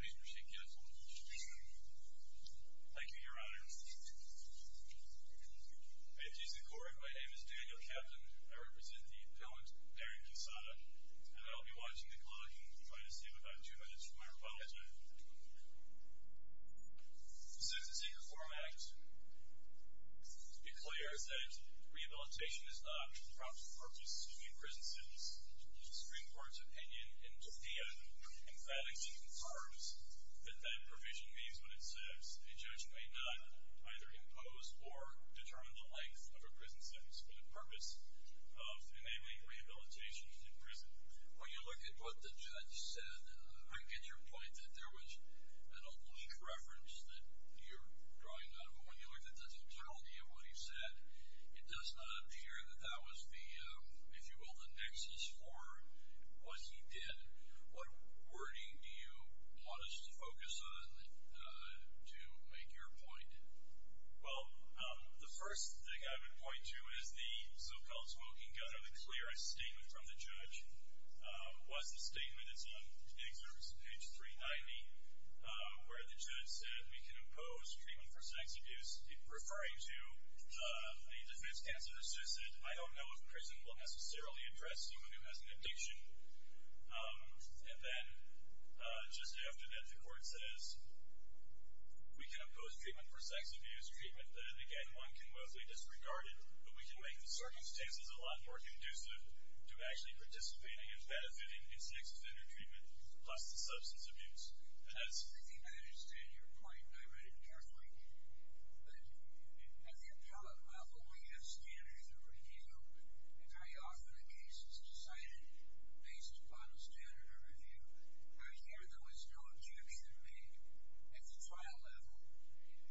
Please proceed. Thank you, Your Honor. My name is Daniel Capton. I represent the appellant, Darren Quesada. I'll be watching the clock and trying to save about two minutes of my apology. This is the Secret Forum Act. To be clear, I said rehabilitation is not for the proper purposes of any prison sentence. The Supreme Court's opinion in Tokyo emphatically confirms that that provision means what it says. A judge may not either impose or determine the length of a prison sentence for the purpose of enabling rehabilitation in prison. When you look at what the judge said, I get your point that there was an oblique reference that you're drawing out. But when you look at the totality of what he said, it does not appear that that was the, if you will, the nexus for what he did. What wording do you want us to focus on to make your point? Well, the first thing I would point to is the so-called smoking gun. One of the clearest statements from the judge was the statement that's on page 390, where the judge said, we can impose treatment for sex abuse, referring to the defense counsel who said, I don't know if prison will necessarily address someone who has an addiction. And then just after that, the court says, we can impose treatment for sex abuse, treatment that, again, one can mostly disregard. But we can make the circumstances a lot more conducive to actually participating and benefiting in sex offender treatment, plus the substance abuse. I think I understand your point. I read it carefully. But at the appellate level, we have standards of review and how often a case is decided based upon a standard of review. I hear there was no objection made at the trial level.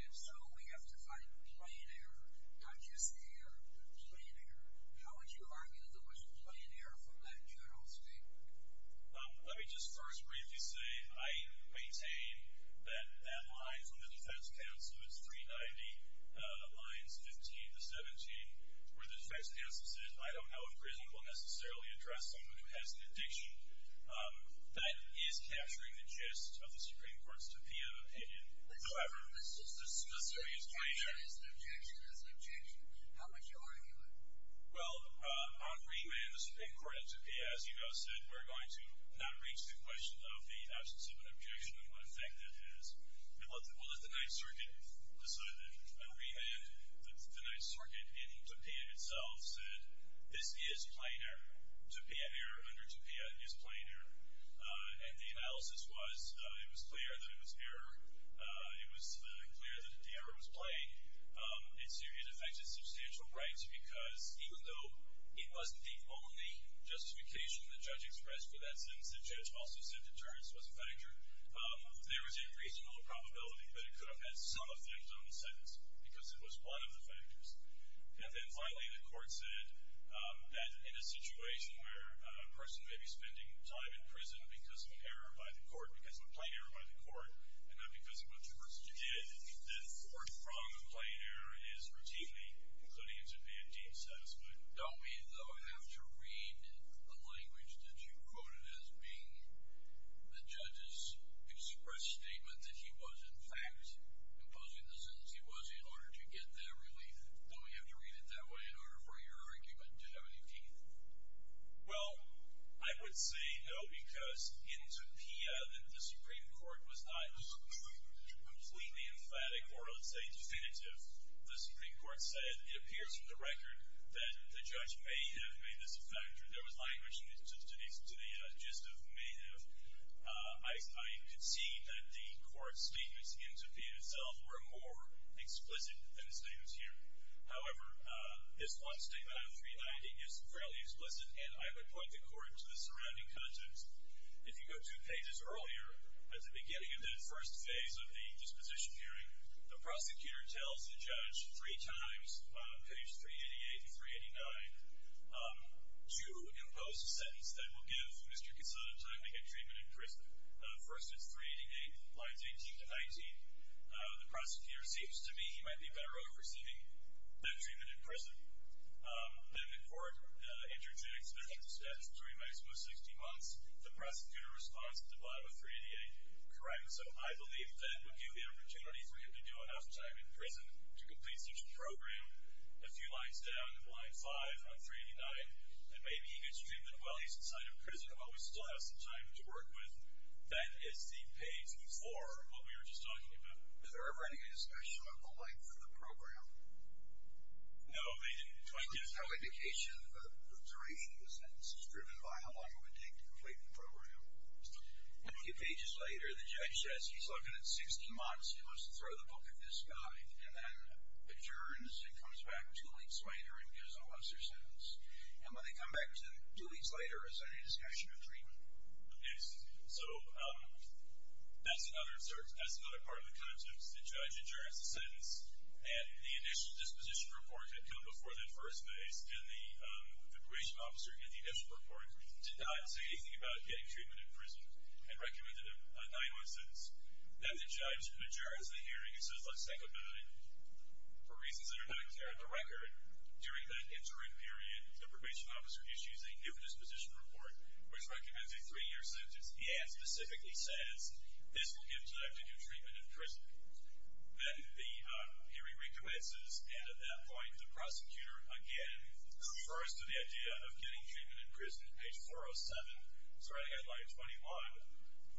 And so we have to find plain error, not just error, but plain error. How would you argue there was plain error from that general statement? Let me just first briefly say I maintain that line from the defense counsel, it's 390, lines 15 to 17, where the defense counsel said, I don't know if prison will necessarily address someone who has an addiction. That is capturing the gist of the Supreme Court's opinion. However, the summary is plain error. It's an objection. It's an objection. How would you argue it? Well, on remand, the Supreme Court at Tupia, as you guys said, we're going to not reach the question of the absence of an objection and what effect that is. Well, at the Ninth Circuit, the remand, the Ninth Circuit in Tupia itself said, this is plain error. Tupia, error under Tupia is plain error. And the analysis was it was clear that it was error. It was clear that the error was plain. It affected substantial rights because even though it wasn't the only justification the judge expressed for that sentence, the judge also said deterrence was a factor. There was a reasonable probability that it could have had some effect on the sentence because it was one of the factors. And then finally, the court said that in a situation where a person may be spending time in prison because of an error by the court, because of a plain error by the court, and not because of what the person did, that forthcoming plain error is routinely, including in Tupia, deemed satisfactory. Don't we, though, have to read the language that you quoted as being the judge's express statement that he was, in fact, imposing the sentence he was in order to get that relief? Don't we have to read it that way in order for your argument to have any teeth? Well, I would say no because in Tupia, the Supreme Court was not completely emphatic or, let's say, definitive. The Supreme Court said it appears from the record that the judge may have made this a factor. There was language to the gist of may have. I concede that the court's statements in Tupia itself were more explicit than the statements here. However, this one statement on 390 is fairly explicit, and I would point the court to the surrounding content. If you go to pages earlier, at the beginning of that first phase of the disposition hearing, the prosecutor tells the judge three times, on page 388 and 389, to impose a sentence that will give Mr. Quesada time to get treatment in prison. First, it's 388, lines 18 to 19. The prosecutor seems to me he might be better off receiving that treatment in prison. Then the court interjects that, at a statutory maximum of 60 months, the prosecutor responds with a blob of 388. Correct? So I believe that would give the opportunity for him to do enough time in prison to complete such a program. A few lines down, line 5 on 389, it may be he gets treatment while he's inside of prison, but we still have some time to work with. Then it's the page 4 of what we were just talking about. Is there ever any discussion of the length of the program? No, I mean, 22. So there's no indication of the duration of the sentence. It's driven by how long it would take to complete the program. A few pages later, the judge says, he's looking at 60 months, he wants to throw the book at this guy, and then adjourns and comes back two weeks later and gives a lesser sentence. And when they come back two weeks later, is there any discussion of treatment? Yes. So that's another part of the context. The judge adjourns the sentence, and the initial disposition report had come before the first base, and the probation officer in the initial report did not say anything about getting treatment in prison and recommended a nine-month sentence. Then the judge adjourns the hearing and says, let's take a vote. For reasons that are not clear on the record, during that interim period, the probation officer issues a new disposition report, which recommends a three-year sentence. The ad specifically says, this will give time to do treatment in prison. Then the hearing recommences, and at that point the prosecutor, again, refers to the idea of getting treatment in prison. Page 407. Sorry, I got it wrong.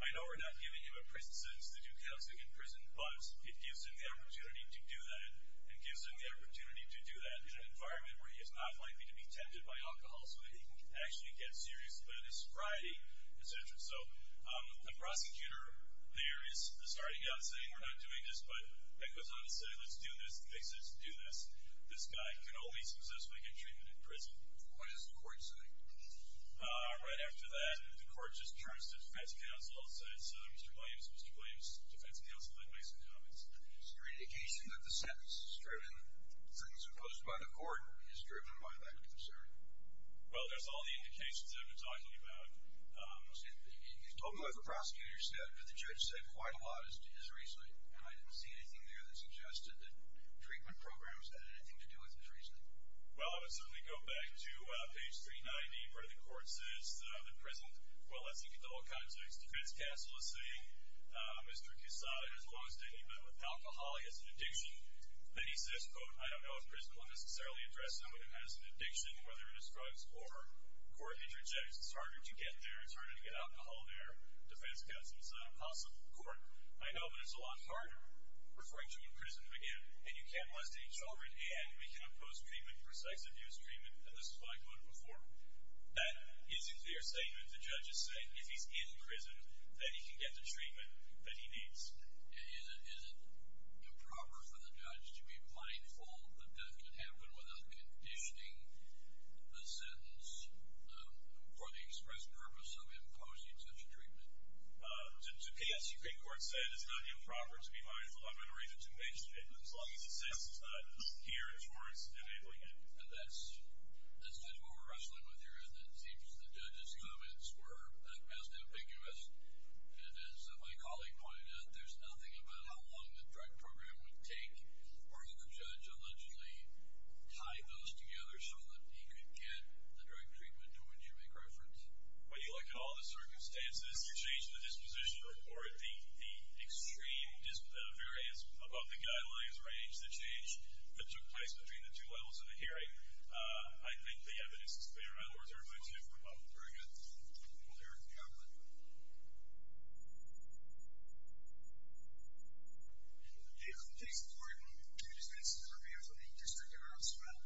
21. I know we're not giving him a prison sentence to do counseling in prison, but it gives him the opportunity to do that, and it gives him the opportunity to do that in an environment where he is not likely to be tempted by alcohol so that he can actually get serious about his sobriety, et cetera. So the prosecutor there is starting out saying, we're not doing this, but then goes on to say, let's do this, and they say, let's do this. This guy can always successfully get treatment in prison. What does the court say? Right after that, the court just turns to defense counsel and says, Mr. Williams, Mr. Williams, defense counsel, please make some comments. Is there any indication that the sentence is driven, the sentence imposed by the court, is driven by lack of concern? Well, that's all the indications I've been talking about. You told me what the prosecutor said, but the judge said quite a lot as to his reasoning, and I didn't see anything there that suggested that treatment programs had anything to do with his reasoning. Well, I would certainly go back to page 390, where the court says that I'm in prison. Well, let's look at the whole context. Defense counsel is saying, Mr. Kusada has lost it. He met with alcohol. He has an addiction. Then he says, quote, I don't know if prison will necessarily address someone who has an addiction, whether it is drugs or court interjections. It's harder to get there. It's harder to get alcohol there. Defense counsel says, that's not possible in court. I know, but it's a lot harder. Referring to him in prison again, and you can't arrest any children, and we can impose treatment, precise abuse treatment, and this is what I quoted before. That isn't their statement. The judge is saying, if he's in prison, that he can get the treatment that he needs. Is it improper for the judge to be mindful that death can happen without conditioning the sentence for the express purpose of imposing such treatment? The Supreme Court said it's not improper to be mindful. I'm going to read the two pages of it. As long as the sentence is not geared towards enabling it. And that's the tool we're wrestling with here, isn't it? It seems the judge's comments were at best ambiguous. And as my colleague pointed out, there's nothing about how long the drug program would take for the judge to allegedly tie those together so that he could get the drug treatment to which you make reference. When you look at all the circumstances, you change the disposition report, the extreme disproportionate variance above the guidelines range, the change that took place between the two levels of the hearing. I think the evidence is clear. My lords, everybody's here for a moment. Very good. We'll hear it in the outlet. The court takes the floor. I just want to say that I'm here for the District Attorney's trial.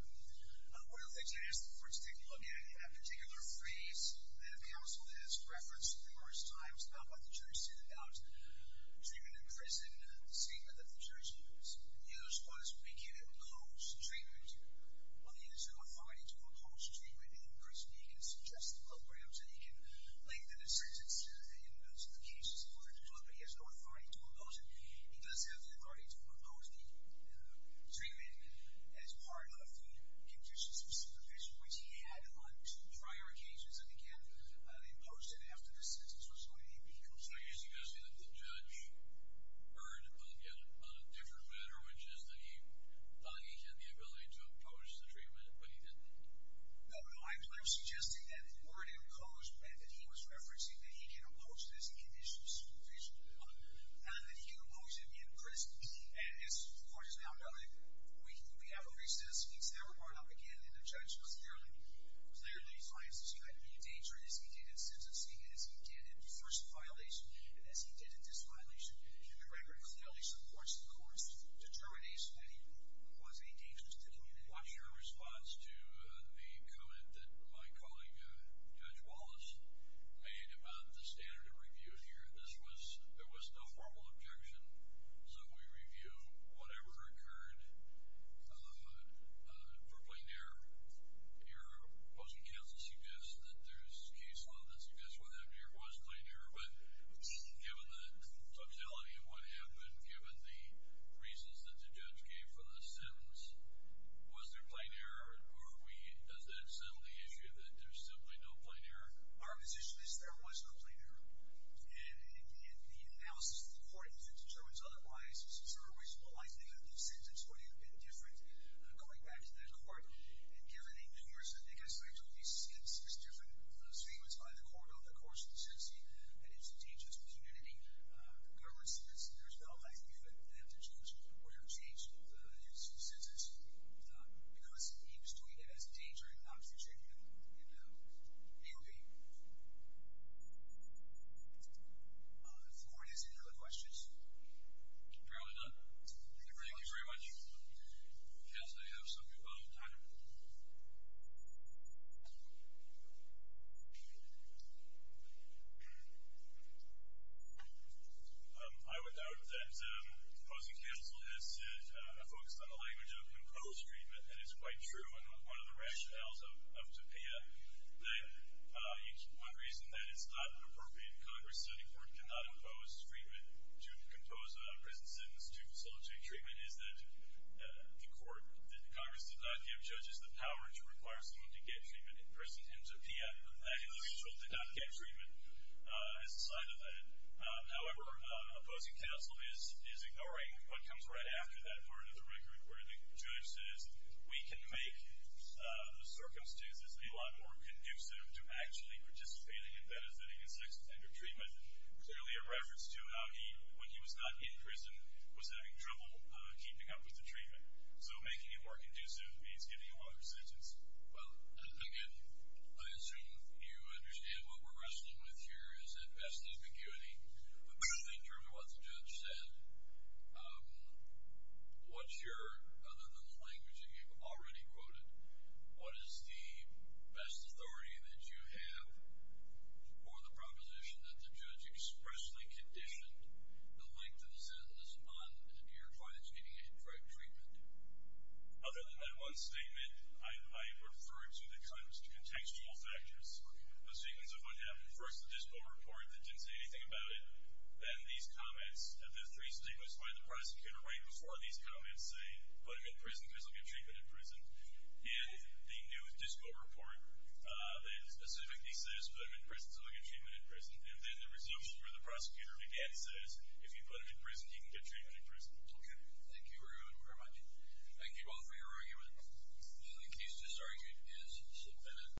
One of the things I asked the courts to look at in a particular phrase that counsel has referenced numerous times about what the jury's said about treatment in prison and the statement that the jury's made. And the other response would be, can it impose treatment? Well, the answer would fall into impose treatment in prison. He can suggest the programs, and he can link them to sentences and to the cases in order to do it. But he has no authority to impose it. Which he had on two prior occasions. And, again, they imposed it after the sentence was laid. So you're suggesting that the judge erred upon a different matter, which is that he thought he had the ability to impose the treatment, but he didn't? No, no, I'm suggesting that the word imposed meant that he was referencing that he can impose this in addition to supervision. And that he can impose it in prison. And, of course, now we have a recess. He's now brought up again. And the judge was fairly clear that he finds that he had to be in danger as he did in sentencing, as he did in the first violation, and as he did in this violation. And the record clearly supports the court's determination that he was a danger to the community. What's your response to the comment that my colleague, Judge Wallace, made about the standard of review here? There was no formal objection. So we review whatever occurred for plain error. Your opposing counsel suggests that there's case law that suggests what happened here was plain error. But given the totality of what happened, given the reasons that the judge gave for the sentence, was there plain error? Or are we, as they've said, on the issue that there's simply no plain error? Our position is there was no plain error. And in the analysis of the court, if it determines otherwise, it's sort of reasonable to think that the sentence would have been different going back to that court. And given the numerous, I think I said, at least six different statements by the court over the course of the sentencing, that it's a dangerous community, the government says that there's no value for them to change or to have changed the sentence. Because he was doing it as a danger and not as a treatment. Any other questions? We're nearly done. Thank you very much. Yes, I have some. Go ahead. I would doubt that opposing counsel has focused on the language of imposed treatment. And it's quite true in one of the rationales of Topia that one reason that it's not an appropriate Congress setting for it cannot impose treatment to compose a prison sentence to facilitate treatment is that the court, that Congress did not give judges the power to require someone to get treatment in prison. And Topia, with that in the result, did not get treatment as a sign of that. However, opposing counsel is ignoring what comes right after that part of the record where the judge says we can make the circumstances be a lot more conducive to actually participating in benefiting in sex offender treatment, clearly a reference to how he, when he was not in prison, was having trouble keeping up with the treatment. So making it more conducive means getting a longer sentence. Well, again, I assume you understand what we're wrestling with here is that vestiguity. But I'm not sure what the judge said. What's your, other than the language that you've already quoted, what is the best authority that you have for the proposition that the judge expressly conditioned the length of the sentence on your point of getting a correct treatment? Other than that one statement, I referred to the contextual factors. A sequence of what happened. First, the Dispo report that didn't say anything about it. Then these comments, the three statements by the prosecutor right before these comments say, put him in prison because he'll get treatment in prison. And the new Dispo report that specifically says, put him in prison so he'll get treatment in prison. And then the resumption where the prosecutor, again, says, if you put him in prison, he can get treatment in prison. Okay. Thank you very much. Thank you both for your argument. The case to this argument is submitted.